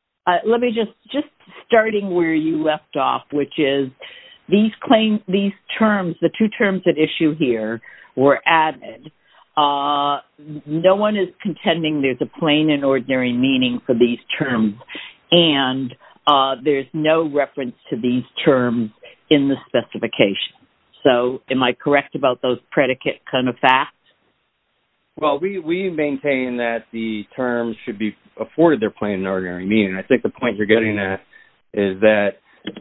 20-1837, TvnGO v. LG Electronics, Inc. 20-1837, TvnGO v. LG Electronics, Inc. 20-1837, TvnGO v. LG Electronics, Inc. 20-1837, TvnGO v. LG Electronics, Inc. No one is contending there's a plain and ordinary meaning for these terms, and there's no reference to these terms in the specification. So, am I correct about those predicate kind of facts? Well, we maintain that the terms should be afforded their plain and ordinary meaning. I think the point you're getting at is that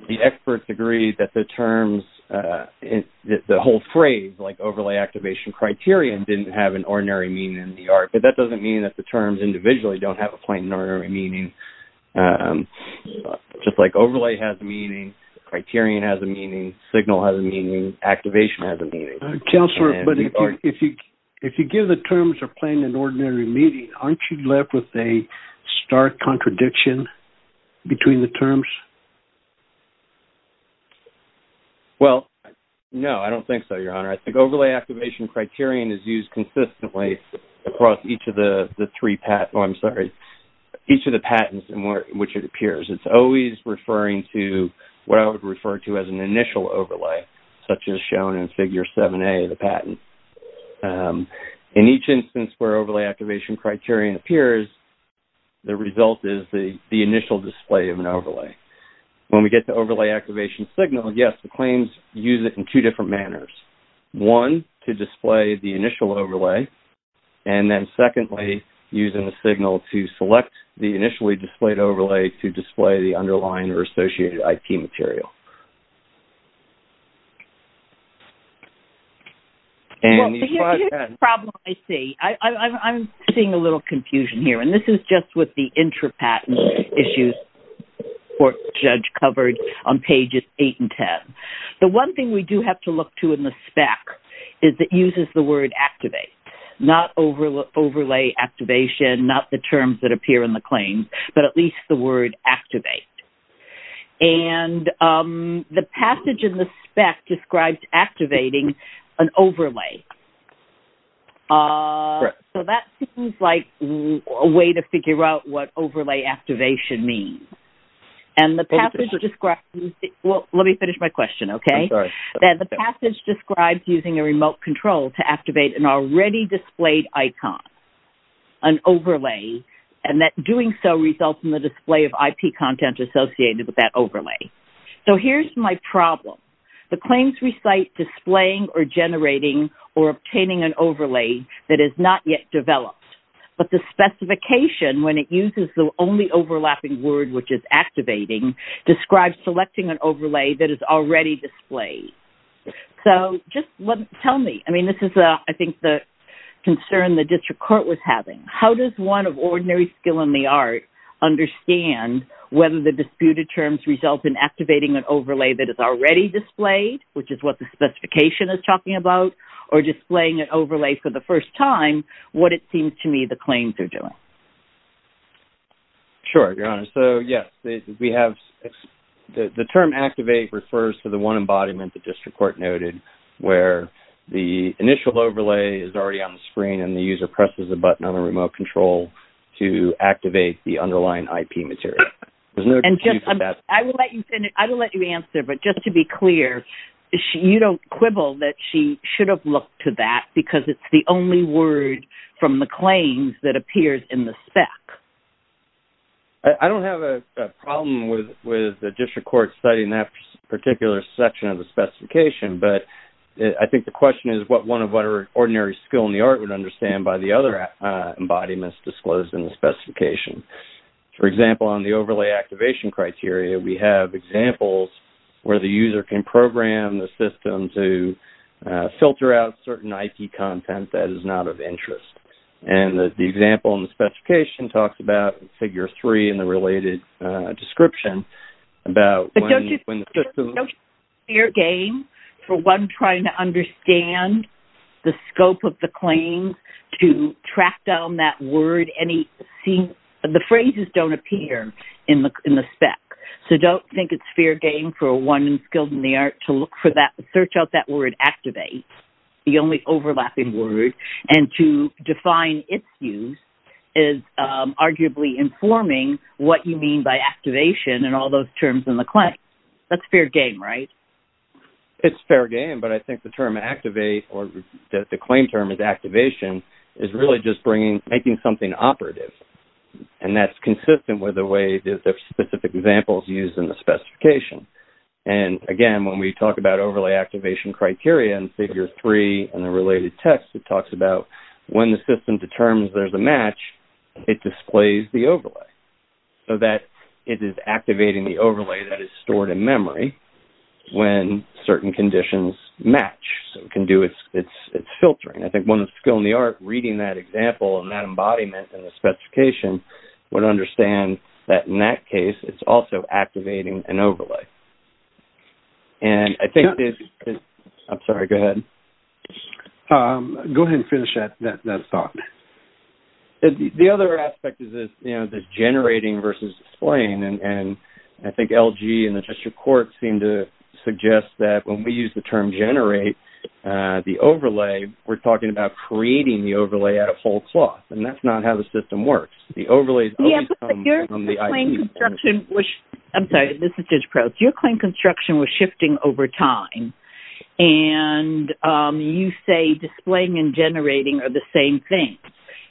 the experts agree that the terms, the whole phrase, like overlay activation criterion, didn't have an ordinary meaning in the ART, but that doesn't mean that the terms individually don't have a plain and ordinary meaning. Just like overlay has a meaning, criterion has a meaning, signal has a meaning, activation has a meaning. Counselor, but if you give the terms a plain and ordinary meaning, aren't you left with a stark contradiction between the terms? Well, no, I don't think so, Your Honor. I think overlay activation criterion is used consistently across each of the patents in which it appears. It's always referring to what I would refer to as an initial overlay, such as shown in Figure 7A of the patent. In each instance where overlay activation criterion appears, the result is the initial display of an overlay. When we get to overlay activation signal, yes, the claims use it in two different manners. One, to display the initial overlay, and then secondly, using the signal to select the initially displayed overlay to display the underlying or associated IT material. Well, here's a problem I see. I'm seeing a little confusion here, and this is just with the intra-patent issues the court judge covered on pages 8 and 10. The one thing we do have to look to in the spec is it uses the word activate, not overlay activation, not the terms that appear in the claims, but at least the word activate. The passage in the spec describes activating an overlay. That seems like a way to figure out what overlay activation means. Let me finish my question, okay? The passage describes using a remote control to activate an already displayed icon, an overlay, and that doing so results in the display of IP content associated with that overlay. Here's my problem. The claims recite displaying or generating or obtaining an overlay that is not yet developed, but the specification, when it uses the only overlapping word, which is activating, describes selecting an overlay that is already displayed. Just tell me. This is, I think, the concern the district court was having. How does one of ordinary skill in the art understand whether the disputed terms result in activating an overlay that is already displayed, which is what the specification is talking about, or displaying an overlay for the first time, what it seems to me the claims are doing? Sure, Your Honor. The term activate refers to the one embodiment the district court noted where the initial overlay is already on the screen and the user presses a button on the remote control to activate the underlying IP material. I will let you answer, but just to be clear, you don't quibble that she should have looked to that because it's the only word from the claims that appears in the spec? I don't have a problem with the district court citing that particular section of the specification, but I think the question is what one of ordinary skill in the art would understand by the other embodiments disclosed in the specification. For example, on the overlay activation criteria, we have examples where the user can program the system to filter out certain IP content that is not of interest. The example in the specification talks about figure three in the related description about when the system- But don't you think it's fair game for one trying to understand the scope of the claim to track down that word? The phrases don't appear in the spec, so don't think it's fair game for one skilled in the art to search out that word activate, the only overlapping word, and to define its use is arguably informing what you mean by activation and all those terms in the claim. That's fair game, right? It's fair game, but I think the claim term is activation is really just making something operative, and that's consistent with the specific examples used in the specification. Again, when we talk about overlay activation criteria in figure three in the related text, it talks about when the system determines there's a match, it displays the overlay, so that it is activating the overlay that is stored in memory when certain conditions match. It can do its filtering. I think one of the skill in the art reading that example and that embodiment in the specification would understand that in that case, it's also activating an overlay. Go ahead and finish that thought. The other aspect is generating versus displaying, and I think LG and the District Court seem to suggest that when we use the term generate, the overlay, we're talking about creating the overlay out of whole cloth, and that's not how the system works. Yeah, but your claim construction was shifting over time, and you say displaying and generating are the same thing,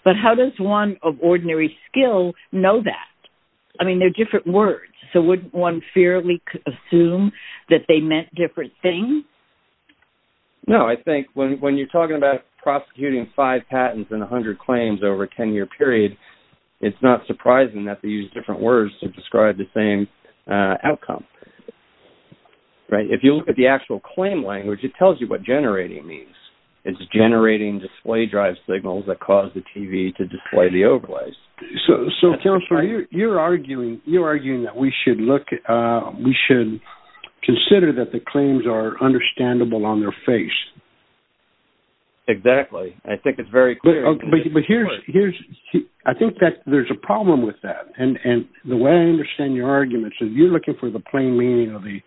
but how does one of ordinary skill know that? I mean, they're different words, so wouldn't one fairly assume that they meant different things? No, I think when you're talking about prosecuting five patents and 100 claims over a 10-year period, it's not surprising that they use different words to describe the same outcome. If you look at the actual claim language, it tells you what generating means. It's generating display drive signals that cause the TV to display the overlays. So, Counselor, you're arguing that we should consider that the claims are understandable on their face. Exactly. I think it's very clear. I think that there's a problem with that, and the way I understand your argument is you're looking for the plain meaning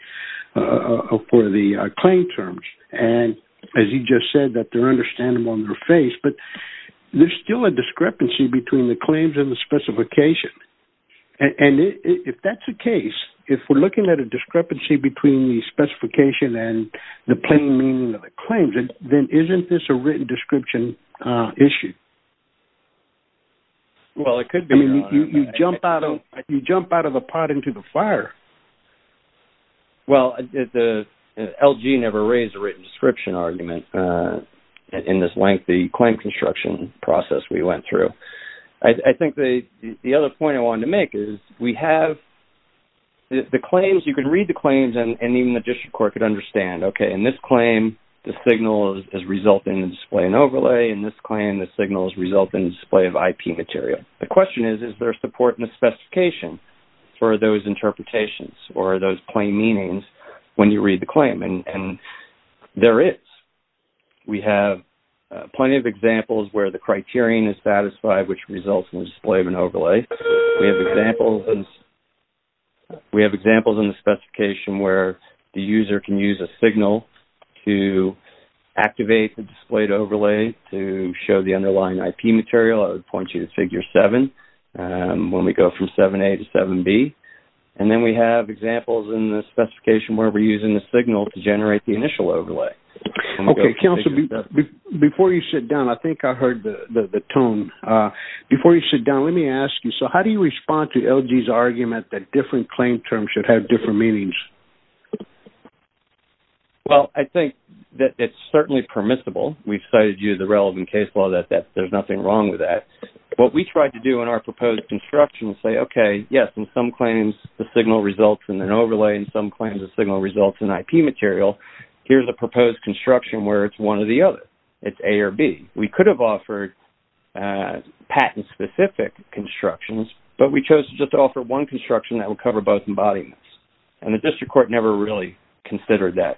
for the claim terms, and as you just said, that they're understandable on their face, but there's still a discrepancy between the claims and the specification, and if that's the case, if we're looking at a discrepancy between the specification and the plain meaning of the claims, then isn't this a written description issue? Well, it could be. I mean, you jump out of a pot into the fire. Well, LG never raised a written description argument in this lengthy claim construction process we went through. I think the other point I wanted to make is we have the claims. You can read the claims, and even the district court could understand, okay, in this claim, the signal is resulting in display and overlay. In this claim, the signal is resulting in display of IP material. The question is, is there support in the specification for those interpretations or those plain meanings when you read the claim, and there is. We have plenty of examples where the criterion is satisfied, which results in the display of an overlay. We have examples in the specification where the user can use a signal to activate the displayed overlay to show the underlying IP material. I would point you to Figure 7 when we go from 7A to 7B. And then we have examples in the specification where we're using the signal to generate the initial overlay. Okay, counsel, before you sit down, I think I heard the tone. Before you sit down, let me ask you, so how do you respond to LG's argument that different claim terms should have different meanings? Well, I think that it's certainly permissible. We've cited you the relevant case law that there's nothing wrong with that. What we tried to do in our proposed construction is say, okay, yes, in some claims, the signal results in an overlay. In some claims, the signal results in IP material. Here's a proposed construction where it's one or the other. It's A or B. We could have offered patent-specific constructions, but we chose just to offer one construction that would cover both embodiments. And the district court never really considered that.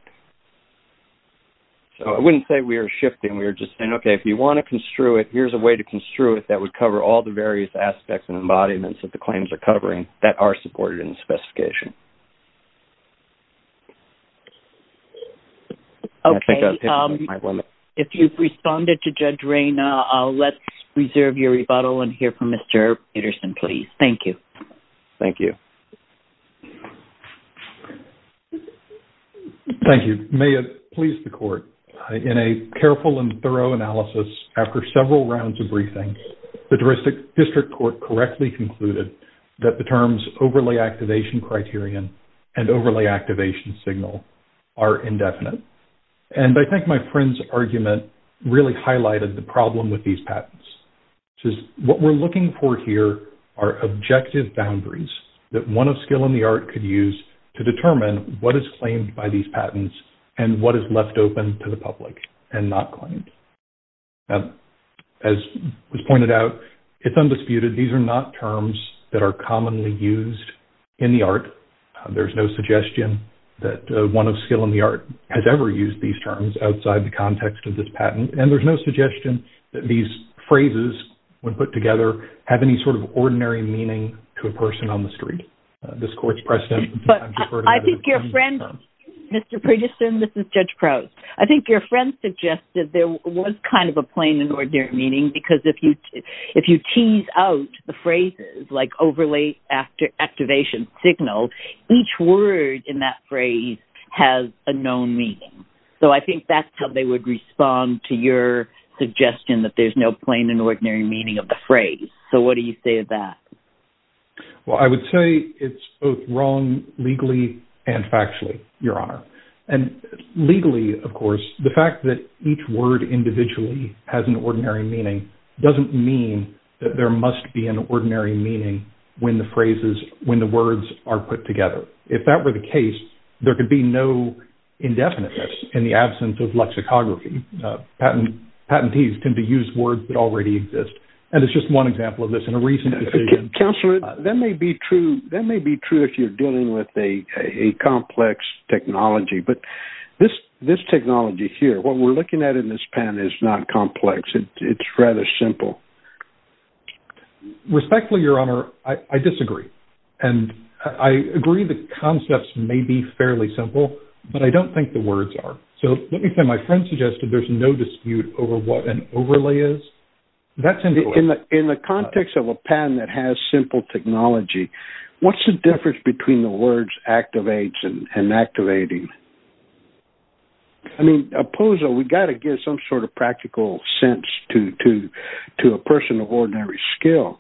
So I wouldn't say we're shifting. We're just saying, okay, if you want to construe it, here's a way to construe it that would cover all the various aspects and embodiments that the claims are covering that are supported in the specification. Okay, if you've responded to Judge Rayna, let's reserve your rebuttal and hear from Mr. Peterson, please. Thank you. Thank you. Thank you. May it please the court, in a careful and thorough analysis, after several rounds of briefings, the district court correctly concluded that the terms overlay activation criterion and overlay activation signal are indefinite. And I think my friend's argument really highlighted the problem with these patents, which is what we're looking for here are objective boundaries that one of skill in the art could use to determine what is claimed by these patents and what is left open to the public and not claimed. As was pointed out, it's undisputed. These are not terms that are commonly used in the art. There's no suggestion that one of skill in the art has ever used these terms outside the context of this patent. And there's no suggestion that these phrases, when put together, have any sort of ordinary meaning to a person on the street. This court's precedent. But I think your friend, Mr. Peterson, this is Judge Crouse, I think your friend suggested there was kind of a plain and ordinary meaning because if you tease out the phrases like overlay activation signal, each word in that phrase has a known meaning. So I think that's how they would respond to your suggestion that there's no plain and ordinary meaning of the phrase. So what do you say to that? Well, I would say it's both wrong legally and factually, Your Honor. And legally, of course, the fact that each word individually has an ordinary meaning doesn't mean that there must be an ordinary meaning when the phrases, when the words are put together. If that were the case, there could be no indefiniteness in the absence of lexicography. Patentees tend to use words that already exist. And it's just one example of this in a recent decision. Counselor, that may be true if you're dealing with a complex technology. But this technology here, what we're looking at in this pen is not complex. It's rather simple. Respectfully, Your Honor, I disagree. And I agree the concepts may be fairly simple, but I don't think the words are. So let me say my friend suggested there's no dispute over what an overlay is. That's incorrect. In the context of a pen that has simple technology, what's the difference between the words activates and inactivating? I mean, apposo, we've got to give some sort of practical sense to a person of ordinary skill.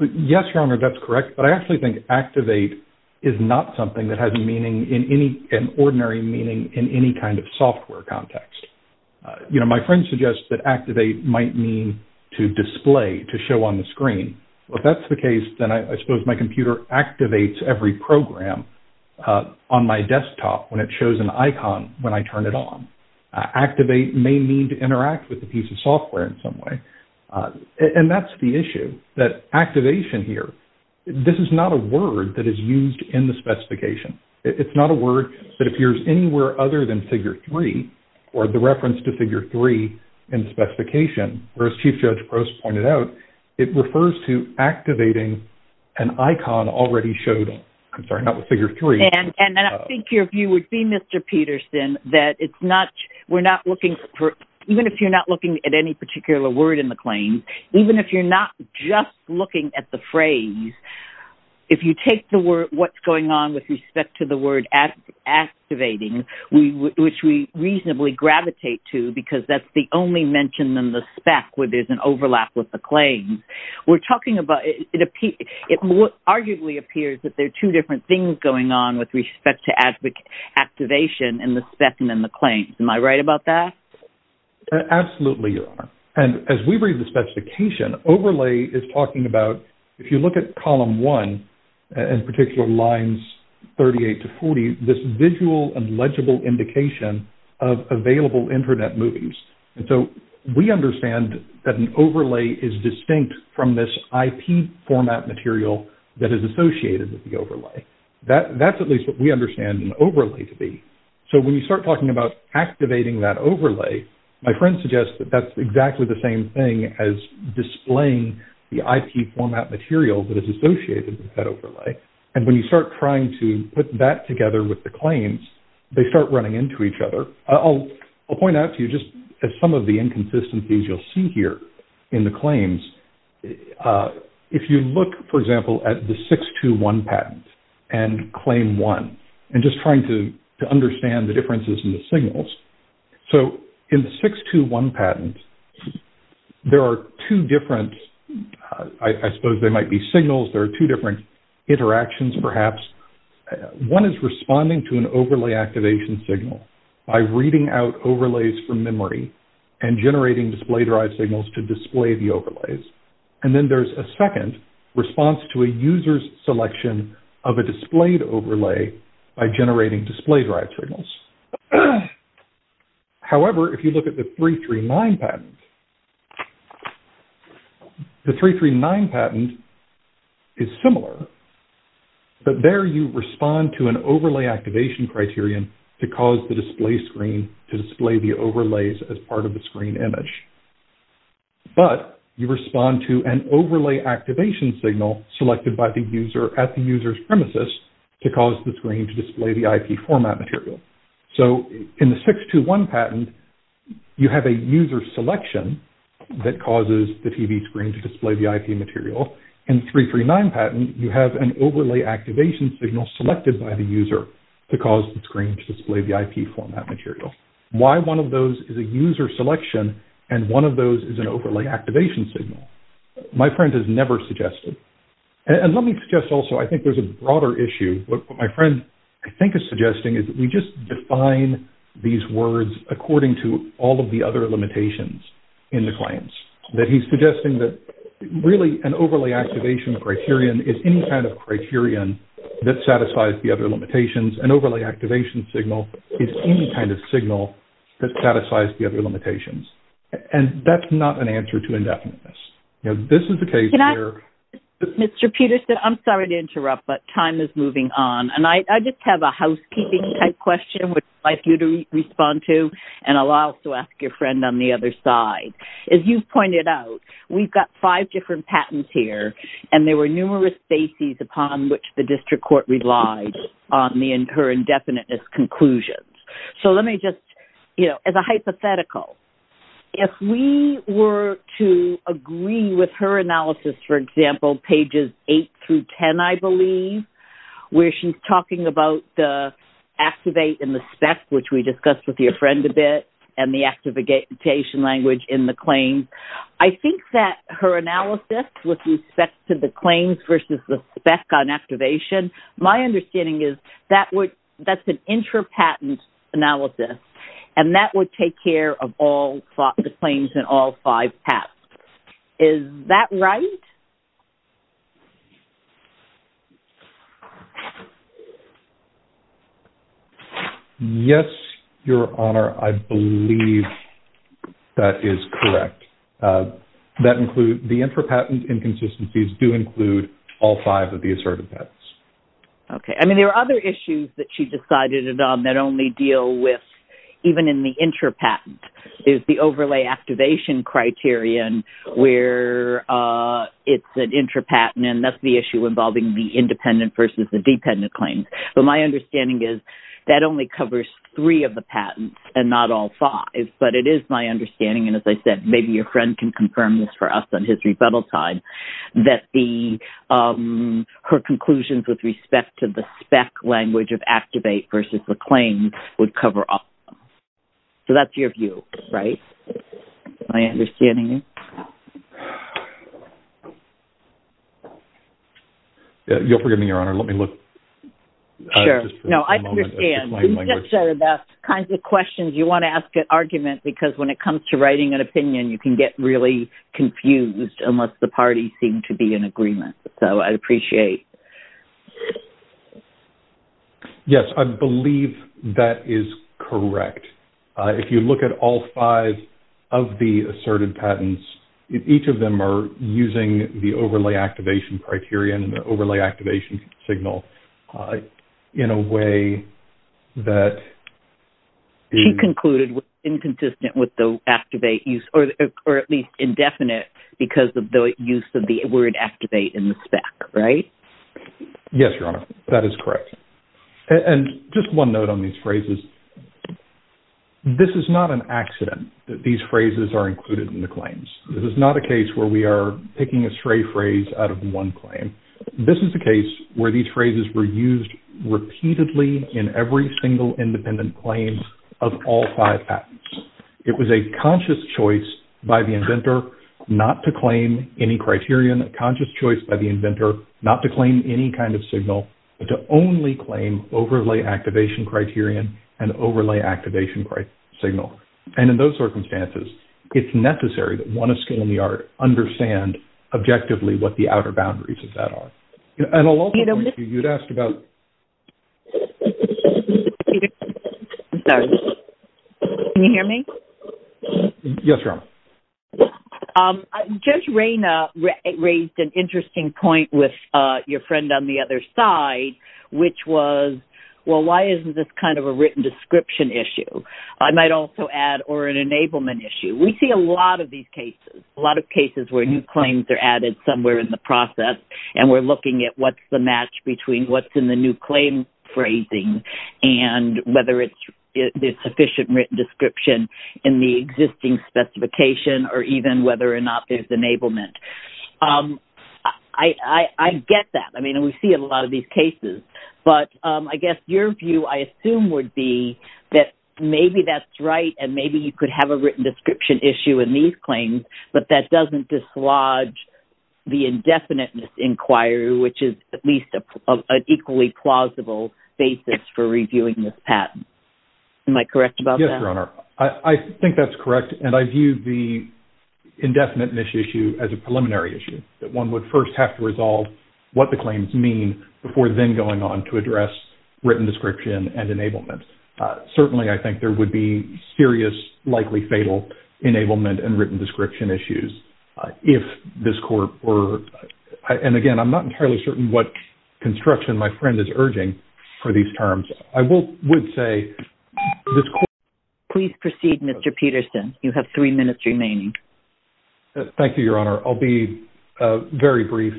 Yes, Your Honor, that's correct. But I actually think activate is not something that has an ordinary meaning in any kind of software context. My friend suggests that activate might mean to display, to show on the screen. If that's the case, then I suppose my computer activates every program on my desktop when it shows an icon when I turn it on. Activate may mean to interact with a piece of software in some way. And that's the issue, that activation here, this is not a word that is used in the specification. It's not a word that appears anywhere other than figure three or the reference to figure three in the specification. Whereas Chief Judge Gross pointed out it refers to activating an icon already showed. I'm sorry, not with figure three. And I think your view would be, Mr. Peterson, that it's not, we're not looking for, even if you're not looking at any particular word in the claim, even if you're not just looking at the phrase, if you take what's going on with respect to the word activating, which we reasonably gravitate to because that's the only mention in the spec where there's an overlap with the claim. We're talking about, it arguably appears that there are two different things going on with respect to activation in the spec and in the claim. Am I right about that? Absolutely, Your Honor. And as we read the specification, overlay is talking about, if you look at column one, in particular lines 38 to 40, this visual and legible indication of available internet movies. And so we understand that an overlay is distinct from this IP format material that is associated with the overlay. That's at least what we understand an overlay to be. So when you start talking about activating that overlay, my friend suggests that that's exactly the same thing as displaying the IP format material that is associated with that overlay. And when you start trying to put that together with the claims, they start running into each other. I'll point out to you just some of the inconsistencies you'll see here in the claims. If you look, for example, at the 621 patent and claim one, and just trying to understand the differences in the signals. So in the 621 patent, there are two different, I suppose they might be signals, there are two different interactions perhaps. One is responding to an overlay activation signal by reading out overlays from memory and generating display-derived signals to display the overlays. And then there's a second response to a user's selection of a displayed overlay by generating display-derived signals. However, if you look at the 339 patent, the 339 patent is similar. But there you respond to an overlay activation criterion to cause the display screen to display the overlays as part of the screen image. But you respond to an overlay activation signal selected at the user's premises to cause the screen to display the IP format material. So in the 621 patent, you have a user selection that causes the TV screen to display the IP material. In the 339 patent, you have an overlay activation signal selected by the user to cause the screen to display the IP format material. Why one of those is a user selection and one of those is an overlay activation signal? My friend has never suggested. And let me suggest also I think there's a broader issue. What my friend I think is suggesting is that we just define these words according to all of the other limitations in the claims. That he's suggesting that really an overlay activation criterion is any kind of criterion that satisfies the other limitations. An overlay activation signal is any kind of signal that satisfies the other limitations. And that's not an answer to indefiniteness. This is the case here. Mr. Peterson, I'm sorry to interrupt, but time is moving on. And I just have a housekeeping type question which I'd like you to respond to. And I'll also ask your friend on the other side. As you've pointed out, we've got five different patents here. And there were numerous bases upon which the district court relied on her indefiniteness conclusions. So let me just, you know, as a hypothetical, if we were to agree with her analysis, for example, pages 8 through 10, I believe, where she's talking about the activate and the spec, which we discussed with your friend a bit, and the activation language in the claims. I think that her analysis with respect to the claims versus the spec on activation, my understanding is that's an intra-patent analysis. And that would take care of all the claims in all five patents. Is that right? Yes, Your Honor, I believe that is correct. The intra-patent inconsistencies do include all five of the assertive patents. Okay. I mean, there are other issues that she decided on that only deal with, even in the intra-patent, is the overlay activation criterion where it's an intra-patent and that's the issue involving the independent versus the dependent claims. But my understanding is that only covers three of the patents and not all five. But it is my understanding, and as I said, maybe your friend can confirm this for us on his rebuttal time, that her conclusions with respect to the spec language of activate versus the claim would cover all of them. So that's your view, right? Is that my understanding? You'll forgive me, Your Honor. Let me look. Sure. No, I understand. These are the kinds of questions you want to ask at argument, because when it comes to writing an opinion, you can get really confused unless the parties seem to be in agreement. So I appreciate. Yes, I believe that is correct. If you look at all five of the assertive patents, each of them are using the overlay activation criterion and the overlay activation signal in a way that... She concluded inconsistent with the activate use, or at least indefinite because of the use of the word activate in the spec, right? Yes, Your Honor. That is correct. And just one note on these phrases. This is not an accident that these phrases are included in the claims. This is not a case where we are picking a stray phrase out of one claim. This is a case where these phrases were used repeatedly in every single independent claim of all five patents. It was a conscious choice by the inventor not to claim any criterion, a conscious choice by the inventor not to claim any kind of signal, but to only claim overlay activation criterion and overlay activation signal. And in those circumstances, it's necessary that one of skill and the art understand objectively what the outer boundaries of that are. And I'll also point to you, you'd asked about... I'm sorry. Can you hear me? Yes, Your Honor. Judge Reyna raised an interesting point with your friend on the other side, which was, well, why isn't this kind of a written description issue? I might also add, or an enablement issue. We see a lot of these cases, a lot of cases where new claims are added somewhere in the process, and we're looking at what's the match between what's in the new claim phrasing and whether there's sufficient written description in the existing specification or even whether or not there's enablement. I get that. I mean, we see it in a lot of these cases. But I guess your view, I assume, would be that maybe that's right and maybe you could have a written description issue in these claims, but that doesn't dislodge the indefiniteness inquiry, which is at least an equally plausible basis for reviewing this patent. Am I correct about that? Yes, Your Honor. I think that's correct. And I view the indefiniteness issue as a preliminary issue, that one would first have to resolve what the claims mean before then going on to address written description and enablement. Certainly, I think there would be serious, likely fatal enablement and written description issues if this court were – and again, I'm not entirely certain what construction my friend is urging for these terms. I would say this court – Please proceed, Mr. Peterson. You have three minutes remaining. Thank you, Your Honor. I'll be very brief.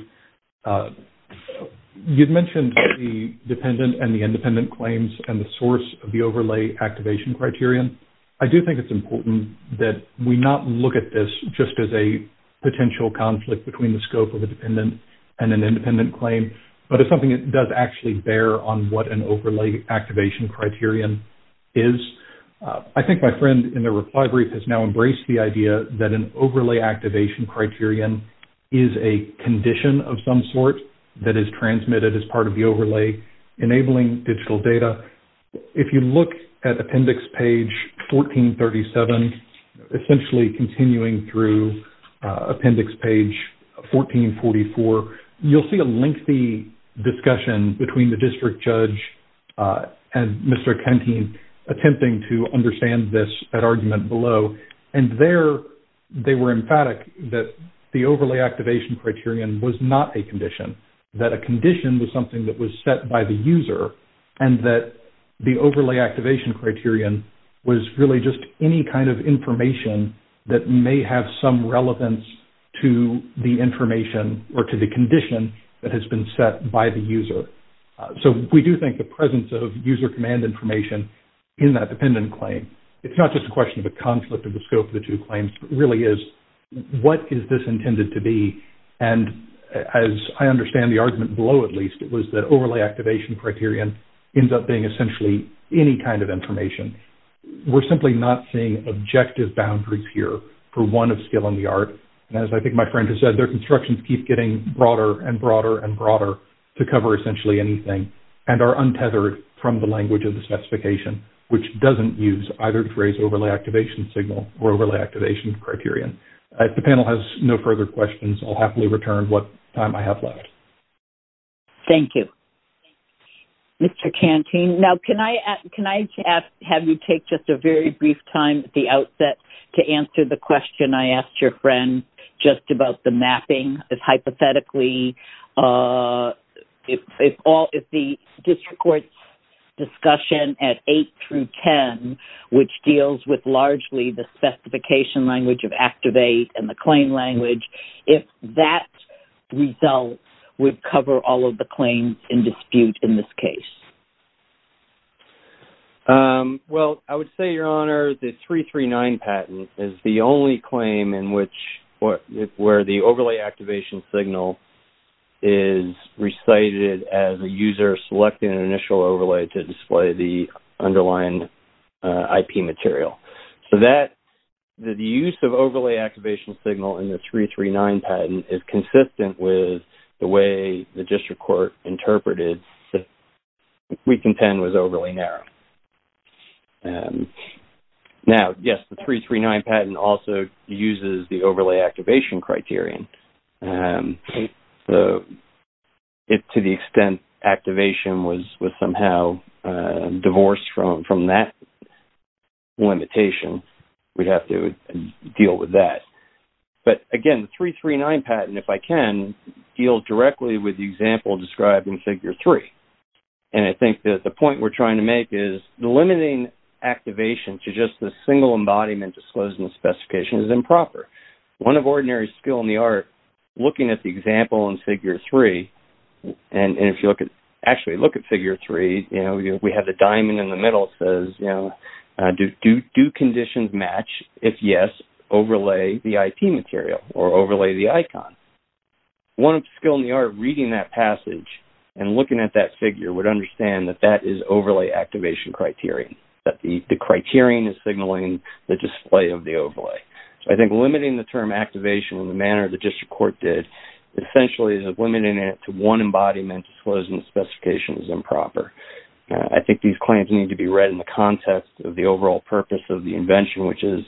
You mentioned the dependent and the independent claims and the source of the overlay activation criterion. I do think it's important that we not look at this just as a potential conflict between the scope of a dependent and an independent claim, but as something that does actually bear on what an overlay activation criterion is. I think my friend in the reply brief has now embraced the idea that an overlay activation criterion is a condition of some sort that is transmitted as part of the overlay enabling digital data. If you look at appendix page 1437, essentially continuing through appendix page 1444, you'll see a lengthy discussion between the district judge and Mr. Kentine attempting to understand this at argument below. There, they were emphatic that the overlay activation criterion was not a condition, that a condition was something that was set by the user and that the overlay activation criterion was really just any kind of information that may have some relevance to the information So we do think the presence of user command information in that dependent claim, it's not just a question of a conflict of the scope of the two claims, but really is what is this intended to be? And as I understand the argument below at least, it was that overlay activation criterion ends up being essentially any kind of information. We're simply not seeing objective boundaries here for one of skill and the art. And as I think my friend has said, their constructions keep getting broader and broader and broader to cover essentially anything and are untethered from the language of the specification, which doesn't use either to raise overlay activation signal or overlay activation criterion. If the panel has no further questions, I'll happily return what time I have left. Thank you. Mr. Kentine, now can I ask, have you take just a very brief time at the outset to answer the question I asked your friend just about the mapping as hypothetically? If the district court's discussion at 8 through 10, which deals with largely the specification language of activate and the claim language, if that result would cover all of the claims in dispute in this case? Well, I would say, Your Honor, the 339 patent is the only claim where the overlay activation signal is recited as a user selecting an initial overlay to display the underlying IP material. So the use of overlay activation signal in the 339 patent is consistent with the way the district court interpreted that Week in 10 was overly narrow. Now, yes, the 339 patent also uses the overlay activation criterion. If to the extent activation was somehow divorced from that limitation, we'd have to deal with that. But, again, the 339 patent, if I can, deals directly with the example described in Figure 3. And I think that the point we're trying to make is the limiting activation to just the single embodiment disclosing the specification is improper. One of ordinary skill in the art, looking at the example in Figure 3, and if you actually look at Figure 3, we have the diamond in the middle that says, Do conditions match? If yes, overlay the IP material or overlay the icon. One skill in the art of reading that passage and looking at that figure would understand that that is overlay activation criterion, that the criterion is signaling the display of the overlay. So I think limiting the term activation in the manner the district court did essentially is limiting it to one embodiment disclosing the specification is improper. I think these claims need to be read in the context of the overall purpose of the invention, which is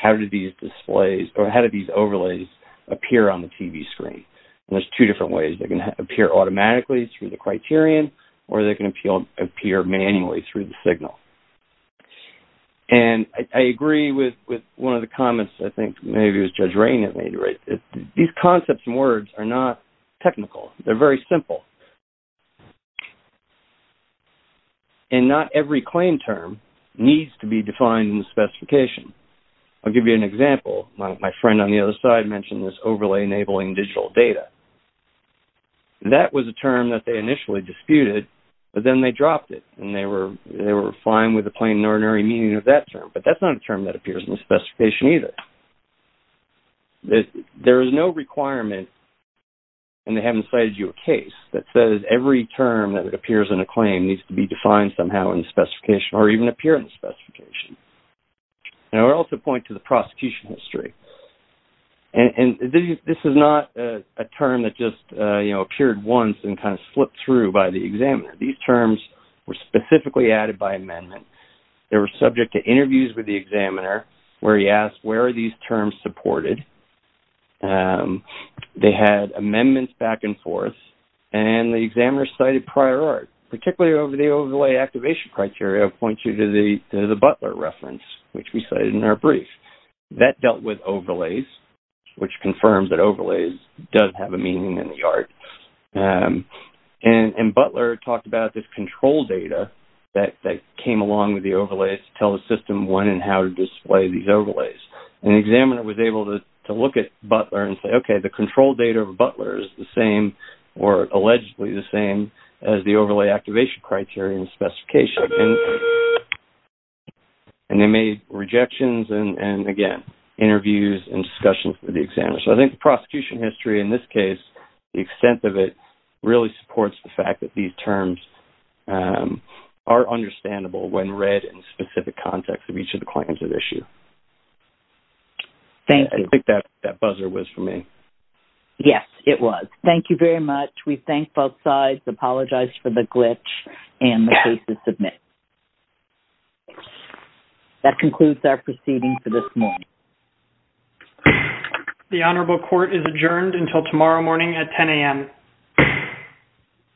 how do these displays or how do these overlays appear on the TV screen? And there's two different ways. They can appear automatically through the criterion or they can appear manually through the signal. And I agree with one of the comments, I think maybe it was Judge Rain that made it right. These concepts and words are not technical. They're very simple. And not every claim term needs to be defined in the specification. I'll give you an example. My friend on the other side mentioned this overlay enabling digital data. That was a term that they initially disputed, but then they dropped it and they were fine with the plain and ordinary meaning of that term. But that's not a term that appears in the specification either. There is no requirement, and they haven't cited you a case, that says every term that appears in a claim needs to be defined somehow in the specification or even appear in the specification. And I would also point to the prosecution history. And this is not a term that just, you know, appeared once and kind of slipped through by the examiner. These terms were specifically added by amendment. They were subject to interviews with the examiner where he asked where are these terms supported. They had amendments back and forth. And the examiner cited prior art, particularly over the overlay activation criteria. I'll point you to the Butler reference, which we cited in our brief. That dealt with overlays, which confirms that overlays does have a meaning in the art. And Butler talked about this control data that came along with the overlays And the examiner was able to look at Butler and say, okay, the control data of Butler is the same or allegedly the same as the overlay activation criteria in the specification. And they made rejections and, again, interviews and discussions with the examiner. So I think the prosecution history in this case, the extent of it, really supports the fact that these terms are understandable when read in the specific context of each of the claims at issue. I think that buzzer was for me. Yes, it was. Thank you very much. We thank both sides, apologize for the glitch, and the case is submitted. That concludes our proceeding for this morning. The Honorable Court is adjourned until tomorrow morning at 10 a.m.